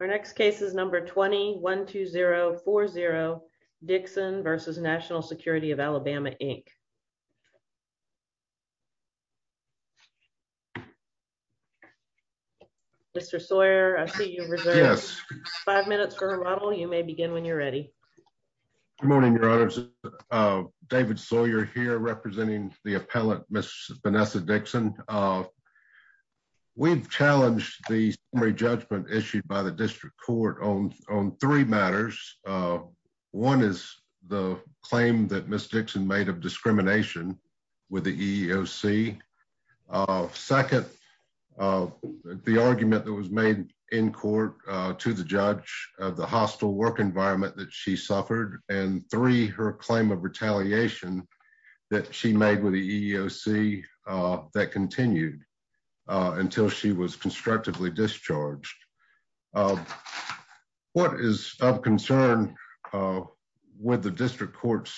Our next case is number 20-12040 Dixon v. National Security of Alabama, Inc. Mr. Sawyer, I see you reserved five minutes for remodel. You may begin when you're ready. Good morning, your honors. David Sawyer here representing the appellant, Ms. Vanessa Dixon. We've challenged the summary judgment issued by the district court on three matters. One is the claim that Ms. Dixon made of discrimination with the EEOC. Second, the argument that was made in court to the judge of the hostile work environment that she suffered. And three, her claim of retaliation that she made with the EEOC that continued until she was constructively discharged. What is of concern with the district court's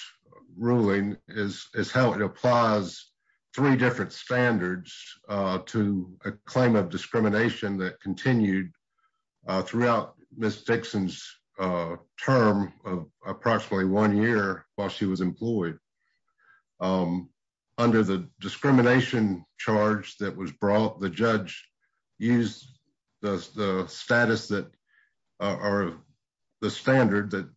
ruling is how it applies three different standards to a claim of discrimination that continued throughout Ms. Dixon's term of approximately one year while she was employed. Under the discrimination charge that was brought, the judge used the status that are the standard that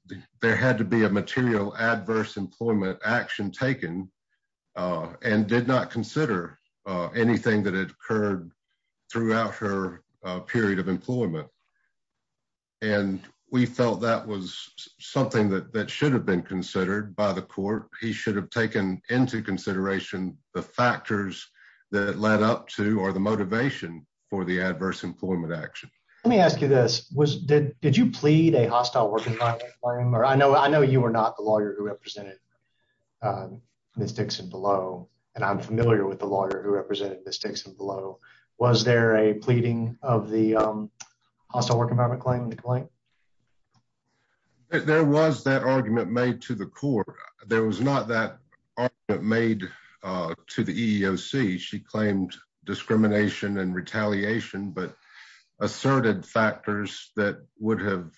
there had to be a material adverse employment action taken and did not consider anything that had occurred throughout her period of employment. And we felt that was something that should have been considered by the court. He should have taken into consideration the factors that led up to or the motivation for the adverse employment action. Let me ask you this. Did you plead a hostile work environment claim? I know you were not a lawyer who represented Ms. Dixon below, and I'm familiar with the lawyer who represented Ms. Dixon below. Was there a pleading of the hostile work environment claim? There was that argument made to the court. There was not that argument made to the EEOC. She claimed discrimination and retaliation, but asserted factors that would have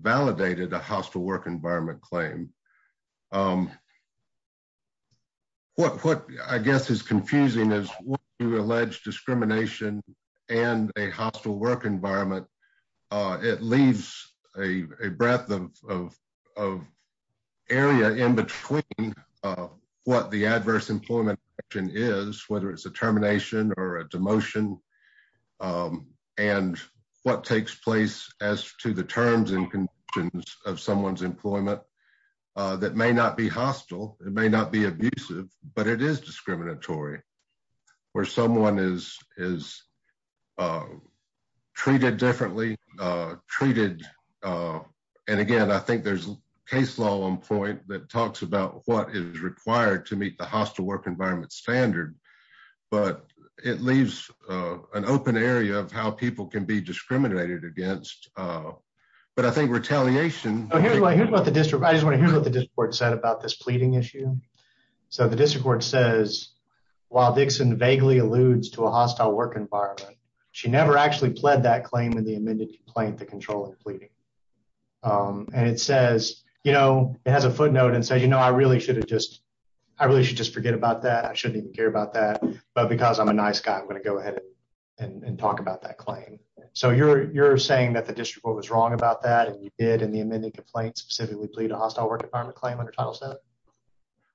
validated a hostile work environment claim. What I guess is confusing is when you allege discrimination and a hostile work environment, it leaves a breadth of area in between what the adverse employment action is, whether it's a termination or a demotion, and what takes place as to the terms and conditions of someone's employment that may not be hostile. It may not be abusive, but it is discriminatory where someone is treated differently. And again, I think there's a case law on point that talks about what is standard, but it leaves an open area of how people can be discriminated against, but I think retaliation... I just want to hear what the district court said about this pleading issue. So the district court says, while Dixon vaguely alludes to a hostile work environment, she never actually pled that claim in the amended complaint, the controlling pleading. And it says, it has a footnote and says, I really should just forget about that. I didn't care about that, but because I'm a nice guy, I'm going to go ahead and talk about that claim. So you're saying that the district court was wrong about that and you did in the amended complaint specifically plead a hostile work environment claim under Title VII?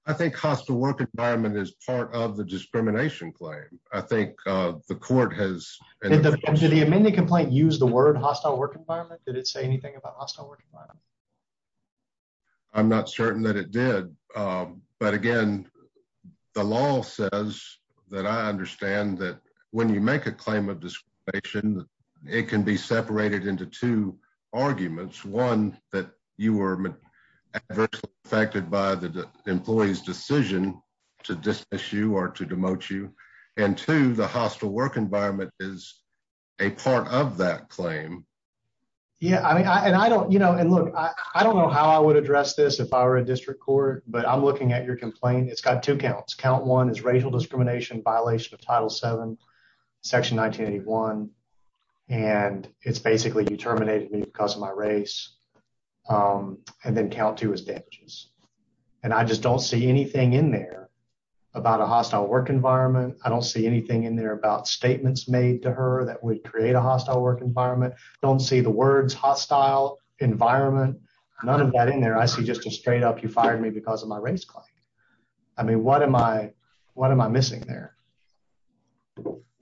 I think hostile work environment is part of the discrimination claim. I think the court has... Did the amended complaint use the word hostile work environment? Did it say anything about that? But again, the law says that I understand that when you make a claim of discrimination, it can be separated into two arguments. One, that you were adversely affected by the employee's decision to dismiss you or to demote you. And two, the hostile work environment is a part of that claim. Yeah. And look, I don't know how I would address this if I were a district court, but I'm looking at your complaint. It's got two counts. Count one is racial discrimination, violation of Title VII, section 1981. And it's basically, you terminated me because of my race. And then count two is damages. And I just don't see anything in there about a hostile work environment. I don't see anything in there about statements made to her that would create a hostile work environment. Don't see the words hostile environment, none of that in there. I see just straight up, you fired me because of my race claim. I mean, what am I missing there?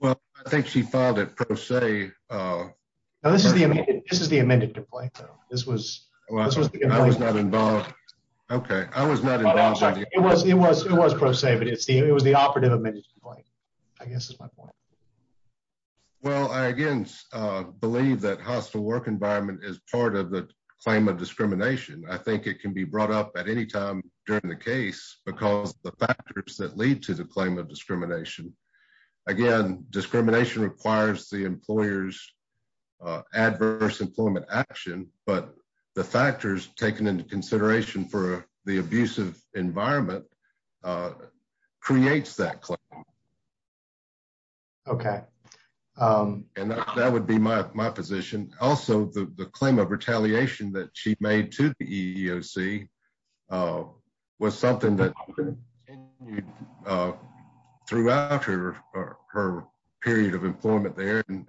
Well, I think she filed it pro se. No, this is the amended complaint, though. This was the complaint. I was not involved. Okay. I was not involved. It was pro se, but it was the operative amended complaint, I guess is my point. Well, I, again, believe that is part of the claim of discrimination. I think it can be brought up at any time during the case because the factors that lead to the claim of discrimination. Again, discrimination requires the employer's adverse employment action, but the factors taken into consideration for the abusive environment creates that claim. Okay. And that would be my position. Also, the claim of retaliation that she made to the EEOC was something that throughout her period of employment there and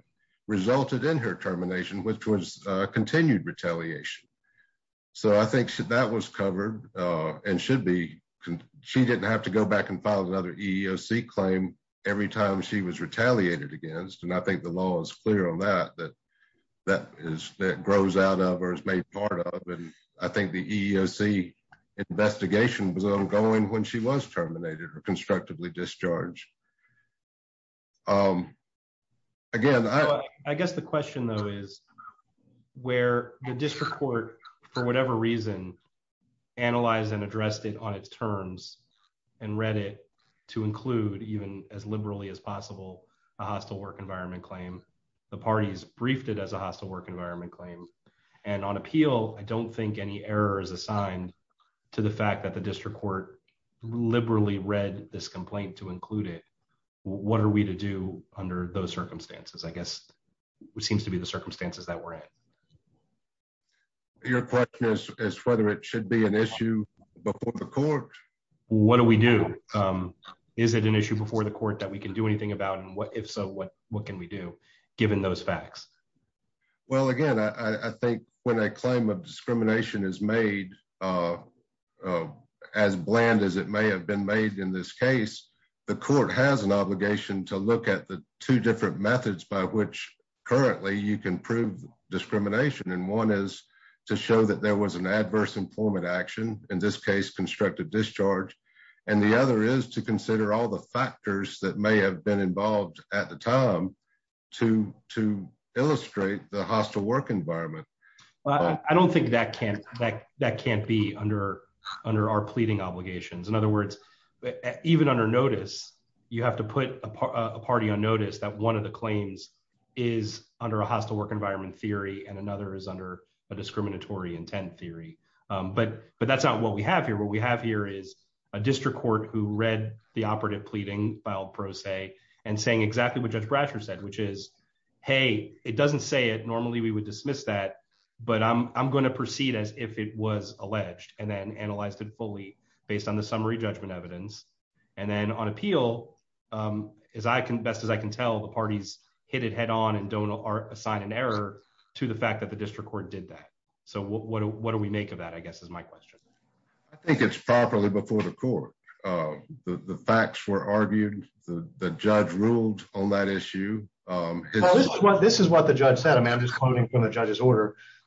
resulted in her termination, which was continued retaliation. So I think that was covered and should be. She didn't have to go back and file another EEOC claim every time she was retaliated against. And I think the law is clear on that, that grows out of or is made part of. And I think the EEOC investigation was ongoing when she was terminated or constructively discharged. Again, I- I guess the question though is where the district court, for whatever reason, analyzed and addressed it on its terms and read it to include even as liberally as possible a hostile work environment claim. The parties briefed it as a hostile work environment claim. And on appeal, I don't think any error is assigned to the fact that the district court liberally read this complaint to include it. What are we to do under those circumstances? I guess what seems to be the circumstances that we're in. Your question is, is whether it should be an issue before the court? What do we do? Is it an issue before the court that we can do anything about? And what if so, what, what can we do given those facts? Well, again, I think when a claim of discrimination is made as bland as it may have been made in this case, the court has an obligation to look at the two different methods by which currently you can prove discrimination. And one is to show that there was an adverse employment action, in this case, constructive discharge. And the other is to consider all the factors that may have been involved at the time to, to illustrate the hostile work environment. I don't think that can, that, that can't be under, under our pleading obligations. In other words, even under notice, you have to put a party on notice that one of the claims is under a hostile work environment theory, and another is under a discriminatory intent theory. But, but that's not what we have here. What we have here is a district court who read the operative pleading filed pro se, and saying exactly what Judge Bratcher said, which is, hey, it doesn't say it normally, we would dismiss that, but I'm going to proceed as if it was alleged, and then analyzed it fully based on the summary judgment evidence. And then on appeal, as I can best as I can tell, the parties hit it head on and don't assign an error to the fact that the district court did that. So what do we make of that, I guess, is my question. I think it's properly before the court. The facts were argued, the judge ruled on that issue. This is what the judge said, I'm just quoting from the judge's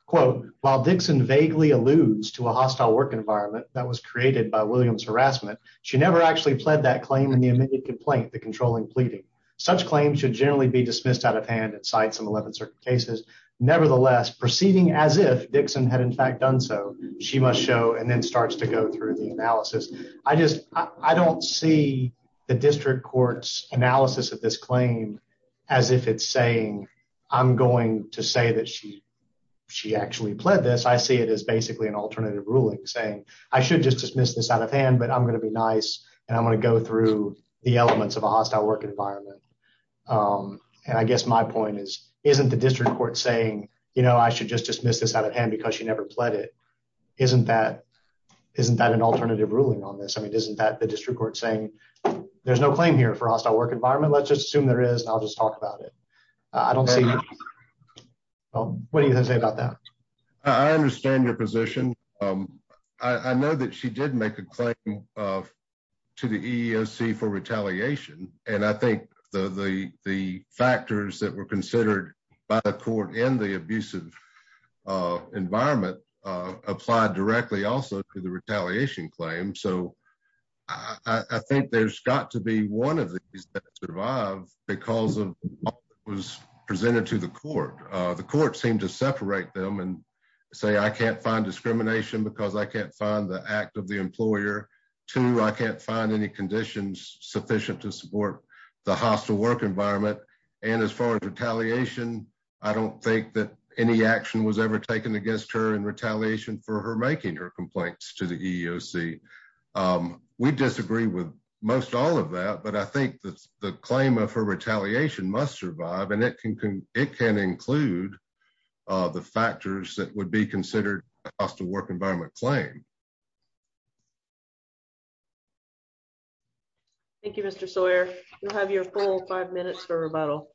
quote, while Dixon vaguely alludes to a hostile work environment that was created by Williams harassment, she never actually pled that claim in the immediate complaint, the controlling pleading, such claims should generally be dismissed out of hand at sites and 11 certain cases. Nevertheless, proceeding as if Dixon had in fact done so, she must show and then starts to go through the analysis. I just I don't see the district court's analysis of this claim, as if it's saying, I'm going to say that she, she actually pled this, I see it as basically an alternative ruling saying, I should just dismiss this out of hand, but I'm going to be nice. And I'm going to go through the elements of a hostile work environment. And I guess my point is, isn't the district court saying, you know, I should just dismiss this out of hand, because she never pled it. Isn't that isn't that an alternative ruling on this? I mean, isn't that the district court saying, there's no claim here for hostile work environment, let's just assume there is, I'll just talk about it. I don't see. What do you have to say about that? I understand your position. I know that she did make a claim to the EEOC for retaliation. And I think the the the factors that were considered by the court in the abusive environment, applied directly also to the retaliation claim. So I think there's got to be one of these that because of was presented to the court, the court seemed to separate them and say, I can't find discrimination because I can't find the act of the employer to I can't find any conditions sufficient to support the hostile work environment. And as far as retaliation, I don't think that any action was ever taken against her in retaliation for her making her complaints to the EEOC. We disagree with most all of that. But I think that the claim of her retaliation must survive and it can it can include the factors that would be considered hostile work environment claim. Thank you, Mr. Sawyer, you'll have your full five minutes for rebuttal.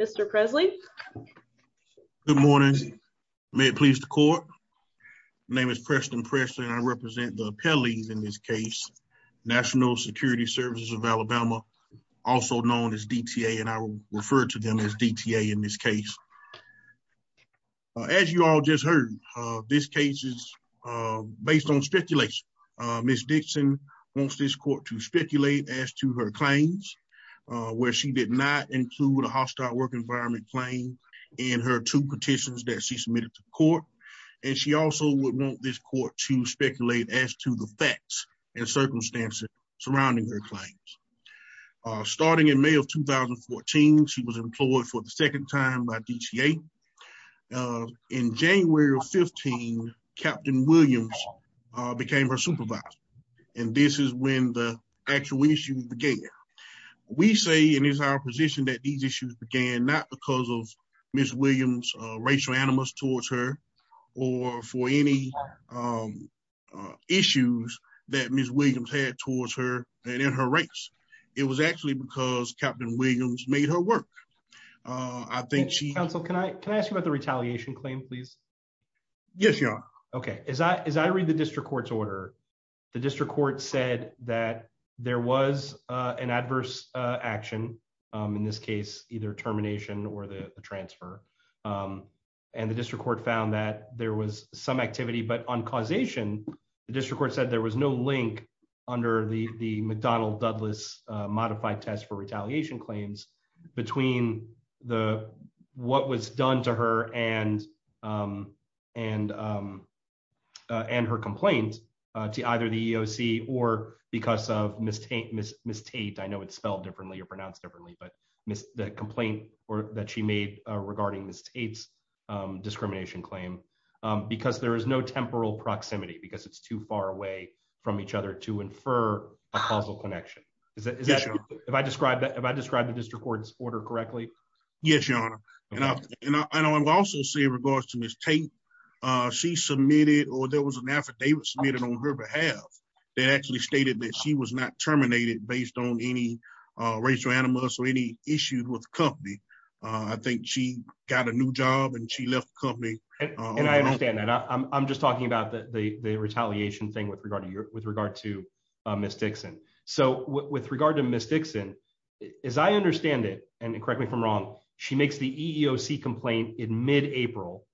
Mr. Presley. Good morning. May it please the court. Name is Preston Presley and I represent the appellees in this case, National Security Services of Alabama, also known as DTA and I refer to them as DTA in this case. As you all just heard, this case is based on speculation. Miss Dixon wants this court to speculate as to her claims, where she did not include a hostile work environment claim in her two petitions that she submitted to court. And she also would want this court to speculate as to the facts and circumstances surrounding her claims. Starting in May of 2014, she was employed for the second time by DTA. In January of 15, Captain Williams became her supervisor. And this is when the actual issue began. We say in his opposition that these issues began not because of Miss Williams racial animus towards her, or for any issues that Miss Williams had towards her and in her race. It was actually because Captain Williams made her work. I think she can I can I ask you about the retaliation claim, please. Yes, you're okay. Is that is I read the district court's order. The district court said that there was an adverse action, in this case, either termination or the transfer. And the district court found that there was some activity but on causation. The district court said there was no link under the the McDonnell Douglas modified test for retaliation claims between the what was done to her and and and her complaint to either the EOC or because of mistake miss mistake. I know it's spelled differently or pronounced differently, but miss the complaint or that she made regarding the states discrimination claim, because there is no temporal proximity because it's too far away from each other to infer a causal connection. If I described that if I described the district court's order correctly, Yes, your honor. And I also say regards to Miss Tate. She submitted or there was an affidavit submitted on her behalf. They actually stated that she was not terminated based on any racial animus or any issues with company. I think she got a new job and she left company. And I understand that I'm just talking about the retaliation thing with regard to your with regard to Miss Dixon. So with regard to Miss Dixon, as I understand it, and correct me if I'm wrong, she makes the EOC complaint in mid April.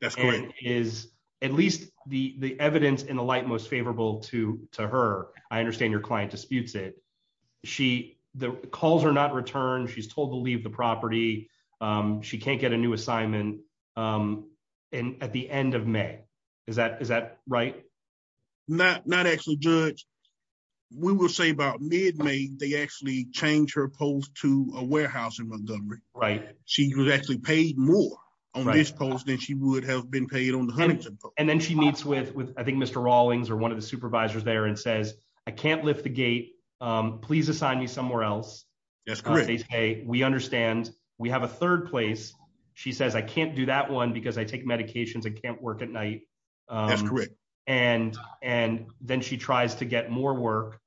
That's great is at least the the evidence in the light most favorable to to her. I understand your client disputes it. She the calls are not returned. She's told to leave the property. She can't get a new assignment. And at the end of May, is that is that right? Not not actually judge. We will say about mid May, they actually change her post to a warehouse in Montgomery, right? She was actually paid more on this post than she would have been paid on the hunt. And then she meets with with I think Mr. Rawlings or one of the supervisors there and says, I can't lift the gate. Please assign me somewhere else. That's great. Hey, we understand we have a third place. She says I can't do that one because I medications and can't work at night. And, and then she tries to get more work.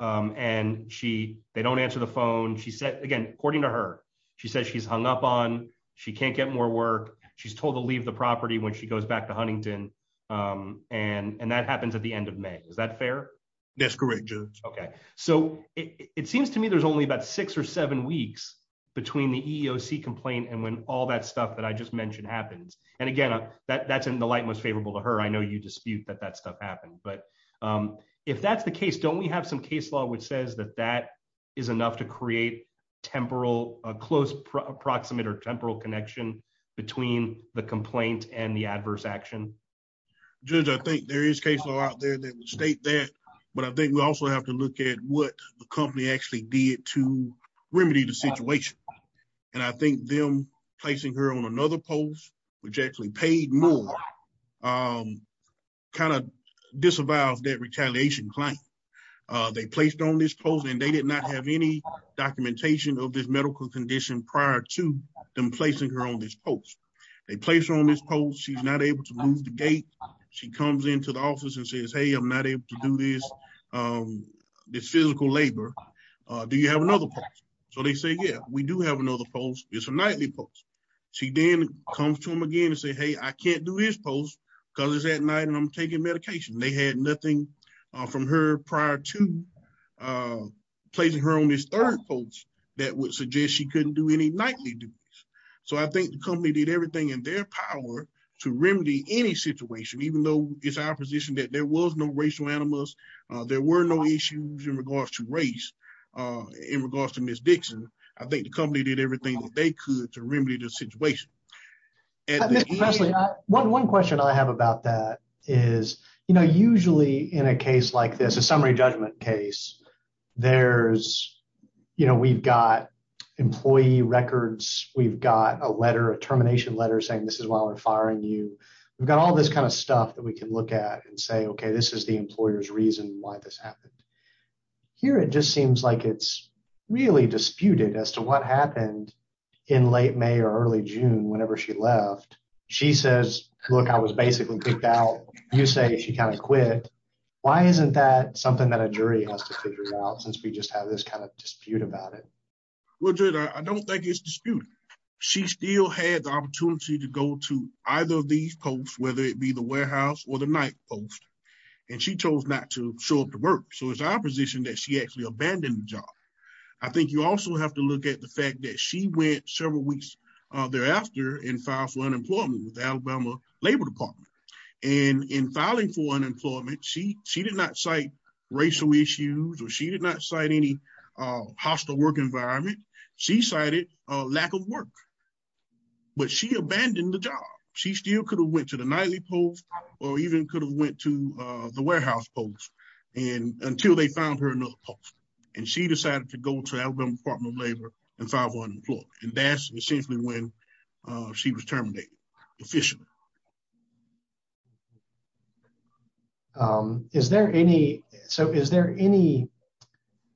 And she they don't answer the phone. She said again, according to her, she says she's hung up on she can't get more work. She's told to leave the property when she goes back to Huntington. And that happens at the end of May. Is that fair? That's correct. Okay. So it seems to me there's only about six or seven weeks between the EOC complaint and when all that stuff that I just mentioned happens. And again, that that's in the light most favorable to her. I know you dispute that that stuff happened. But if that's the case, don't we have some case law, which says that that is enough to create temporal, a close approximate or temporal connection between the complaint and the adverse action? Judge, I think there is case law out there that state that. But I think we also have to look at what the company actually did to remedy the situation. And I think them placing her on another post, which actually paid more kind of disavows that retaliation claim. They placed on this post and they did not have any documentation of this medical condition prior to them placing her on this post. They placed on this post, she's not able to move the gate. She comes into the office and says, hey, I'm not able to do this. This physical labor. Do you have another post? So they say, yeah, we do have another post. It's a nightly post. She then comes to him again and say, hey, I can't do his post because it's at night and I'm taking medication. They had nothing from her prior to placing her on this third post that would suggest she couldn't do any nightly duties. So I think the company did everything in their power to remedy any situation, even though it's our position that there was no racial animals, there were no issues in regards to race in regards to Ms. Dixon. I think the company did everything they could to remedy the situation. One question I have about that is, you know, usually in a case like this, a summary judgment case, there's, you know, we've got employee records. We've got a letter, a termination letter saying this is why we're firing you. We've got all this kind of stuff that we can look at and say, okay, this is the employer's reason why this happened here. It just seems like it's really disputed as to what happened in late May or early June, whenever she left. She says, look, I was basically kicked out. You say she kind of quit. Why isn't that something that a jury has to figure out since we just have this kind of dispute about it? Well, I don't think it's disputed. She still had the opportunity to go to either of these posts, whether it be the warehouse or the night post, and she chose not to show up to work. So it's that she actually abandoned the job. I think you also have to look at the fact that she went several weeks thereafter and filed for unemployment with the Alabama Labor Department. And in filing for unemployment, she did not cite racial issues or she did not cite any hostile work environment. She cited a lack of work, but she abandoned the job. She still could have went to the nightly post or even could have went to the warehouse post until they found her another post. And she decided to go to Alabama Department of Labor and file for unemployment. And that's essentially when she was terminated officially. So is there any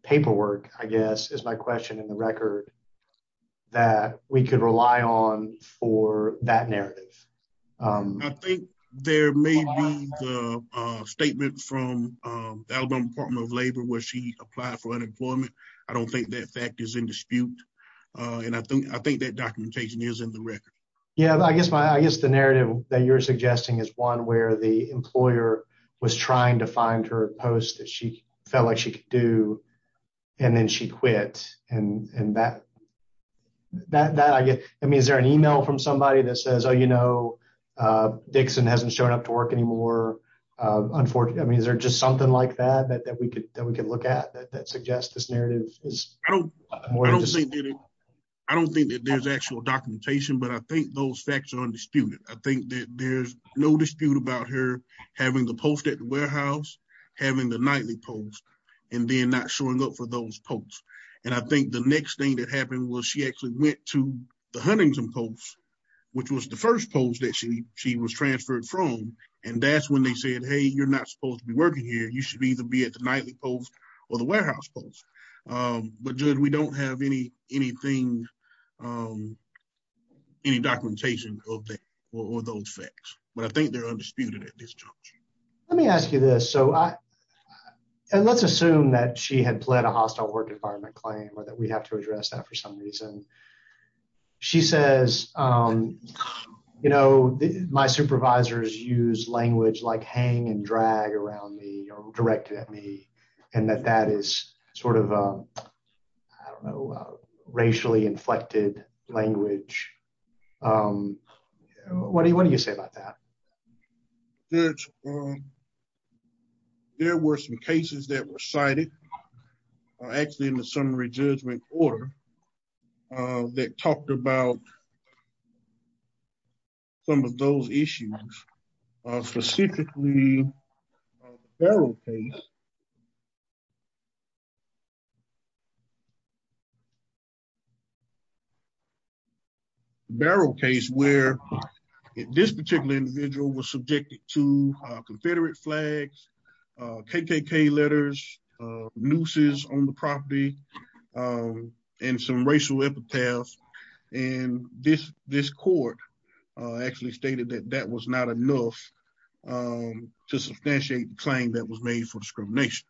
paperwork, I guess, is my question in the record that we could rely on for that narrative? I think there may be the statement from the Alabama Department of Labor where she applied for unemployment. I don't think that fact is in dispute. And I think that documentation is in the record. Yeah, I guess the narrative that you're suggesting is one where the employer was trying to find her a post that she felt like she could do, and then she quit. And that, I mean, is there an email from somebody that says, oh, you know, Dixon hasn't shown up to work anymore? Unfortunately, I mean, is there just something like that, that we could look at that suggests this narrative? I don't think that there's actual documentation, but I think those facts are undisputed. I think that there's no dispute about her having the post at the warehouse, having the nightly post, and then not showing up for those posts. And I think the next thing that happened was she actually went to the Huntington post, which was the first post that she was transferred from. And that's when they said, hey, you're not supposed to be working here. You should either be at the nightly post or the warehouse post. But, Judge, we don't have any documentation of that or those facts. But I think they're undisputed at this juncture. Let me ask you this. So let's assume that she had a hostile work environment claim or that we have to address that for some reason. She says, you know, my supervisors use language like hang and drag around me or directed at me, and that that is sort of a racially inflected language. What do you say about that? Judge, there were some cases that were cited actually in the summary judgment order that talked about some of those issues, specifically the Barrow case. The Barrow case where this particular individual was subjected to Confederate flags, KKK letters, nooses on the property, and some racial epitaphs. And this court actually stated that that was not enough to substantiate the claim that was made for discrimination.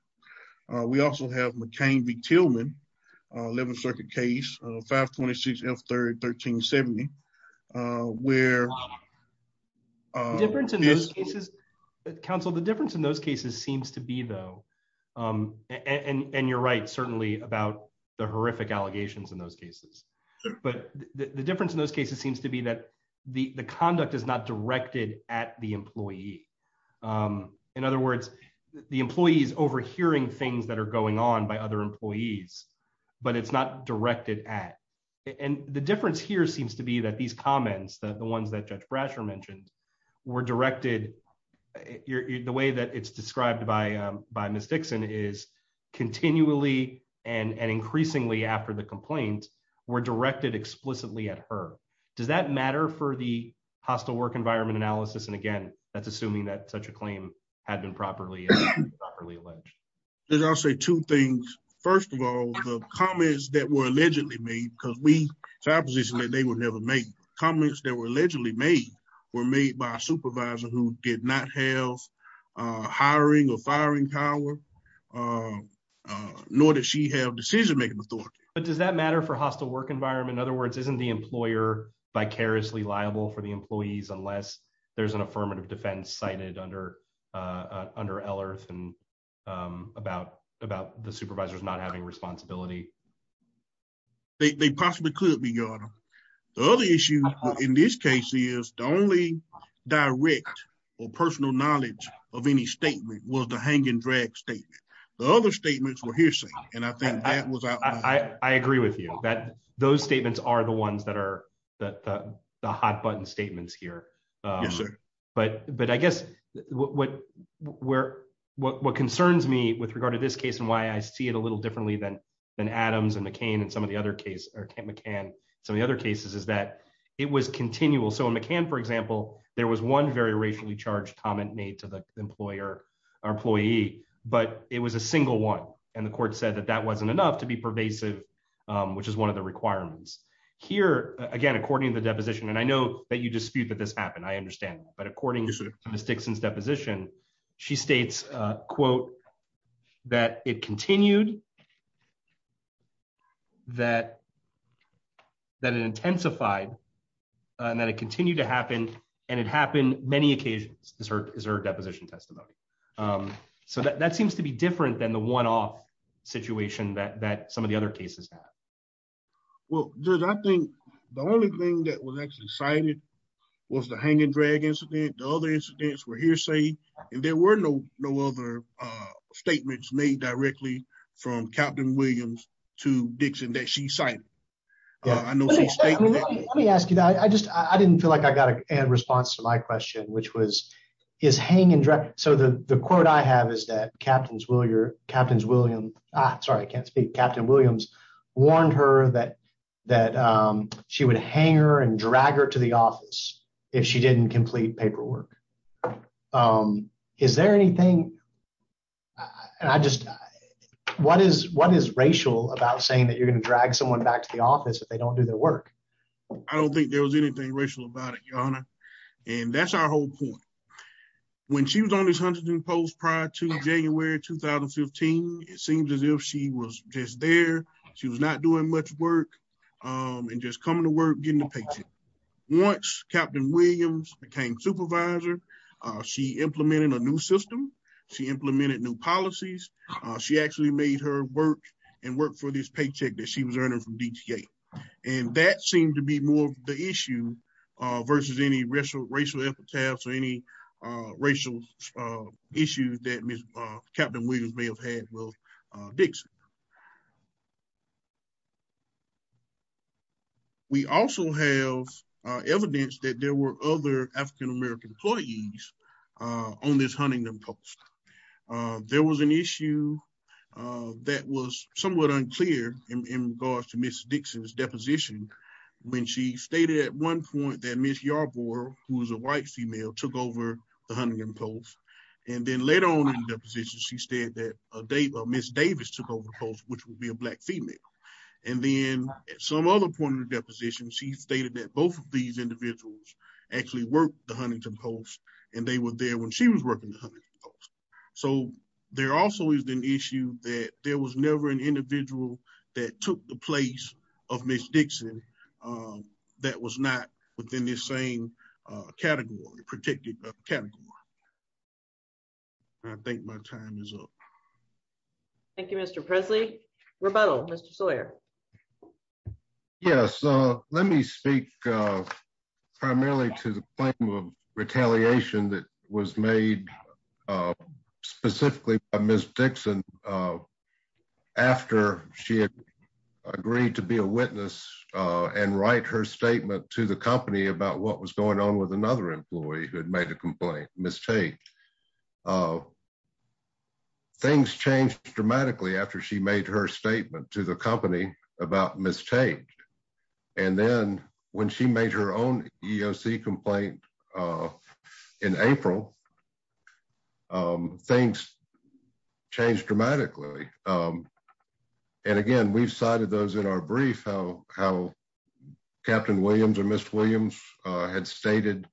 We also have McCain v. Tillman, 11th Circuit case, 526 F. 1370, where... Counsel, the difference in those cases seems to be, though, and you're right, certainly, about the horrific allegations in those cases. But the difference in those cases seems to be that the conduct is not directed at the employee. In other words, the employee is overhearing things that are going on by other employees, but it's not directed at. And the difference here seems to be that these comments, the ones that Judge Brasher mentioned, were directed... The way that it's described by Ms. Dixon is continually and increasingly after the complaint were directed explicitly at her. Does that matter for the hostile work environment analysis? And again, that's assuming that such a claim had been properly alleged. I'll say two things. First of all, the comments that were allegedly made, because we... It's our position that they were never made. Comments that were allegedly made were made by a supervisor who did not have hiring or firing power, nor did she have decision-making authority. But does that matter for hostile work environment? In other words, isn't the employer vicariously liable for the employees unless there's an affirmative defense cited under LRF and about the supervisors not having responsibility? They possibly could be, Your Honor. The other issue in this case is the only direct or personal knowledge of any statement was the hang and drag statement. The other statements were hearsay. And I think that was... I agree with you that those statements are the ones that are the hot button statements here. Yes, sir. But I guess what concerns me with regard to this case and why I see it a little differently than Adams and McCain and some of the other cases is that it was continual. So in McCain, for example, there was one very racially charged comment made to the employer or employee, but it was a single one. And the court said that that wasn't enough to be pervasive, which is one of the requirements. Here, again, according to the deposition, and I know that you dispute that this happened, I understand, but according to Ms. Dixon's deposition, she states, quote, that it continued, that it intensified, and that it continued to happen. And it happened many occasions, is her deposition testimony. So that seems to be different than the one-off situation that some of the other cases have. Well, Judge, I think the only thing that was actually cited was the hang and drag incident. The other incidents were hearsay, and there were no other statements made directly from Captain Williams to Dixon that she cited. Let me ask you, I didn't feel like I got a response to my question, which was, is hang and drag, so the quote I have is that Captains Williams, sorry, I can't speak, Captain Williams warned her that she would hang her and drag her to the office if she didn't complete paperwork. Is there anything, and I just, what is racial about saying that you're going to drag someone back to the office if they don't do their work? I don't think there was anything racial about it, Your Honor, and that's our whole point. When she was on this Huntington Post prior to January 2015, it seemed as if she was just there, she was not doing much work, and just coming to work, getting the paycheck. Once Captain Williams became supervisor, she implemented a new system, she implemented new policies, she actually made her work and work for this paycheck that she was earning from DTA, and that seemed to be more of the issue versus any racial epitaphs or any racial issues that Captain Williams may have had with Dixon. We also have evidence that there were other African American employees on this Huntington Post. There was an issue that was somewhat unclear in regards to Ms. Dixon's deposition when she stated at one point that Ms. Yarborough, who was a white female, took over the Huntington Post, which would be a black female. And then at some other point of the deposition, she stated that both of these individuals actually worked the Huntington Post, and they were there when she was working the Huntington Post. So there also is an issue that there was never an individual that took the place of Ms. Dixon that was not within this same category, protected category. I think my time is up. Thank you, Mr. Presley. Rebuttal, Mr. Sawyer. Yes, let me speak primarily to the claim of retaliation that was made specifically by Ms. Dixon after she had agreed to be a witness and write her statement to the company about what was going on with another employee who had made a complaint, Ms. Tate. Things changed dramatically after she made her statement to the company about Ms. Tate. And then when she made her own EOC complaint in April, things changed dramatically. And again, we've cited those in our brief, how Captain Williams or Ms. Williams had stated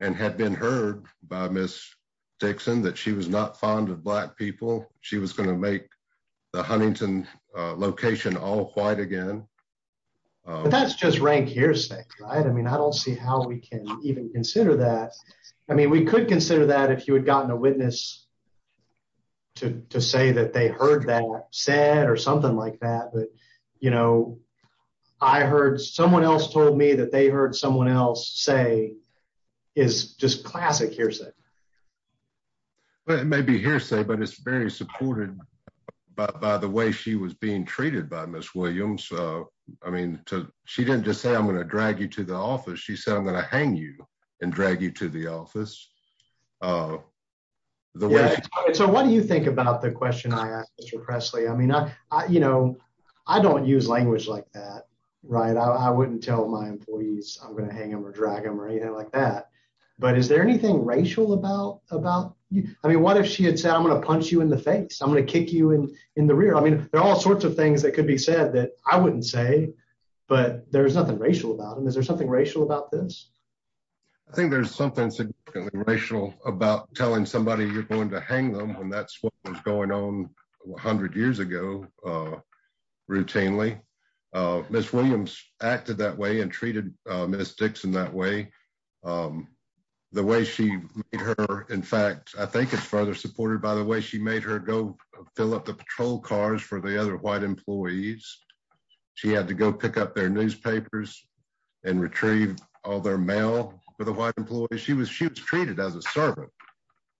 and had been heard by Ms. Dixon that she was not fond of black people. She was going to make the Huntington location all white again. But that's just rank hearsay, right? I mean, I don't see how we can even consider that. I mean, we could consider that if you had gotten a witness to say that they heard that said or something like that. But, you know, I heard someone else told me that they heard someone else say is just classic hearsay. It may be hearsay, but it's very supported by the way she was being treated by Ms. Williams. I mean, she didn't just say, I'm going to drag you to the office. She said, I'm going to hang you and drag you to the office. Oh, yeah. So what do you think about the question I asked Mr. Presley? I mean, you know, I don't use language like that, right? I wouldn't tell my employees I'm going to hang them or drag them or anything like that. But is there anything racial about you? I mean, what if she had said, I'm going to punch you in the face, I'm going to kick you in the rear. I mean, there are all sorts of things that could be said that I wouldn't say, but there's nothing about them. Is there something racial about this? I think there's something racial about telling somebody you're going to hang them when that's what was going on 100 years ago, routinely. Ms. Williams acted that way and treated Ms. Dixon that way. The way she made her, in fact, I think it's further supported by the way she made her go fill up the patrol cars for the other white employees. She had to go pick up their newspapers and retrieve all their mail for the white employees. She was treated as a servant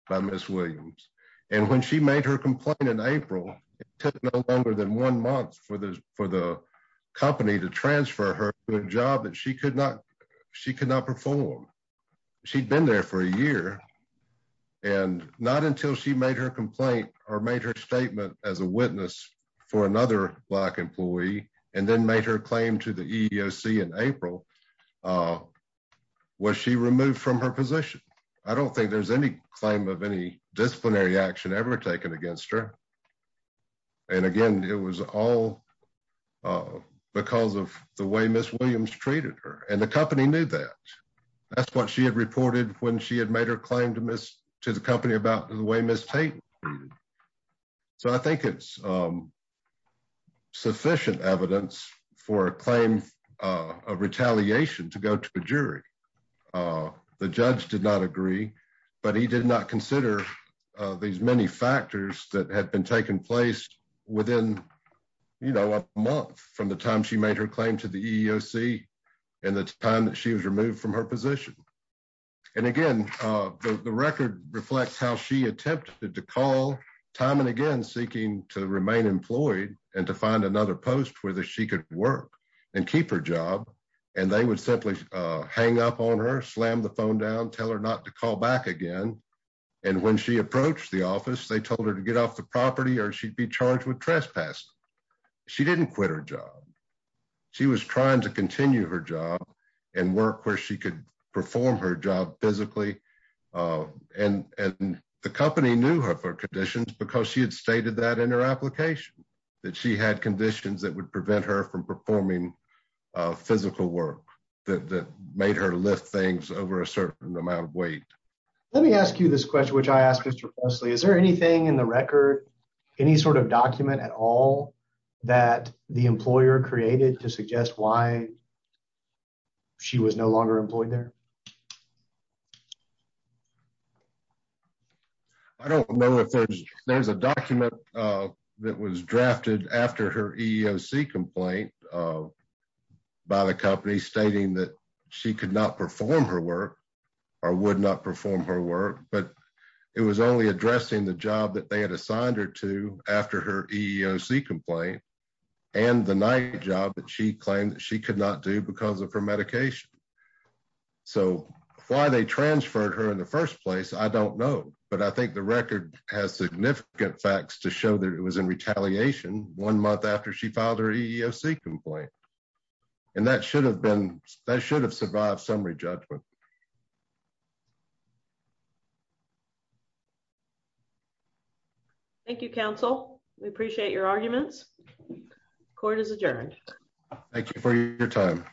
by Ms. Williams. And when she made her complaint in April, it took no longer than one month for the company to transfer her to a job that she could not perform. She'd been there for a year. And not until she made her complaint or made her statement as a witness for another black employee, and then made her claim to the EEOC in April, was she removed from her position. I don't think there's any claim of any disciplinary action ever taken against her. And again, it was all because of the way Ms. Williams treated her, and the company knew that. That's what she had reported when she had made her claim to the about the way Ms. Tate was treated. So I think it's sufficient evidence for a claim of retaliation to go to a jury. The judge did not agree, but he did not consider these many factors that had been taken place within, you know, a month from the time she made her claim to the EEOC and the time she was removed from her position. And again, the record reflects how she attempted to call time and again, seeking to remain employed and to find another post where she could work and keep her job. And they would simply hang up on her, slam the phone down, tell her not to call back again. And when she approached the office, they told her to get off the property or she'd be where she could perform her job physically. And the company knew her for conditions because she had stated that in her application, that she had conditions that would prevent her from performing physical work that made her lift things over a certain amount of weight. Let me ask you this question, which I asked Mr. Wesley, is there anything in the record, any sort of document at all that the employer created to suggest why she was no longer employed there? I don't know if there's a document that was drafted after her EEOC complaint by the company stating that she could not perform her work or would not perform her work, but it was only addressing the job that they had assigned her to after her EEOC complaint and the night job that she claimed that she could not do because of her medication. So why they transferred her in the first place, I don't know, but I think the record has significant facts to show that it was in retaliation one month after she filed her EEOC complaint. And that should have been, that should have survived summary judgment. Thank you, counsel. We appreciate your arguments. Court is adjourned. Thank you for your time.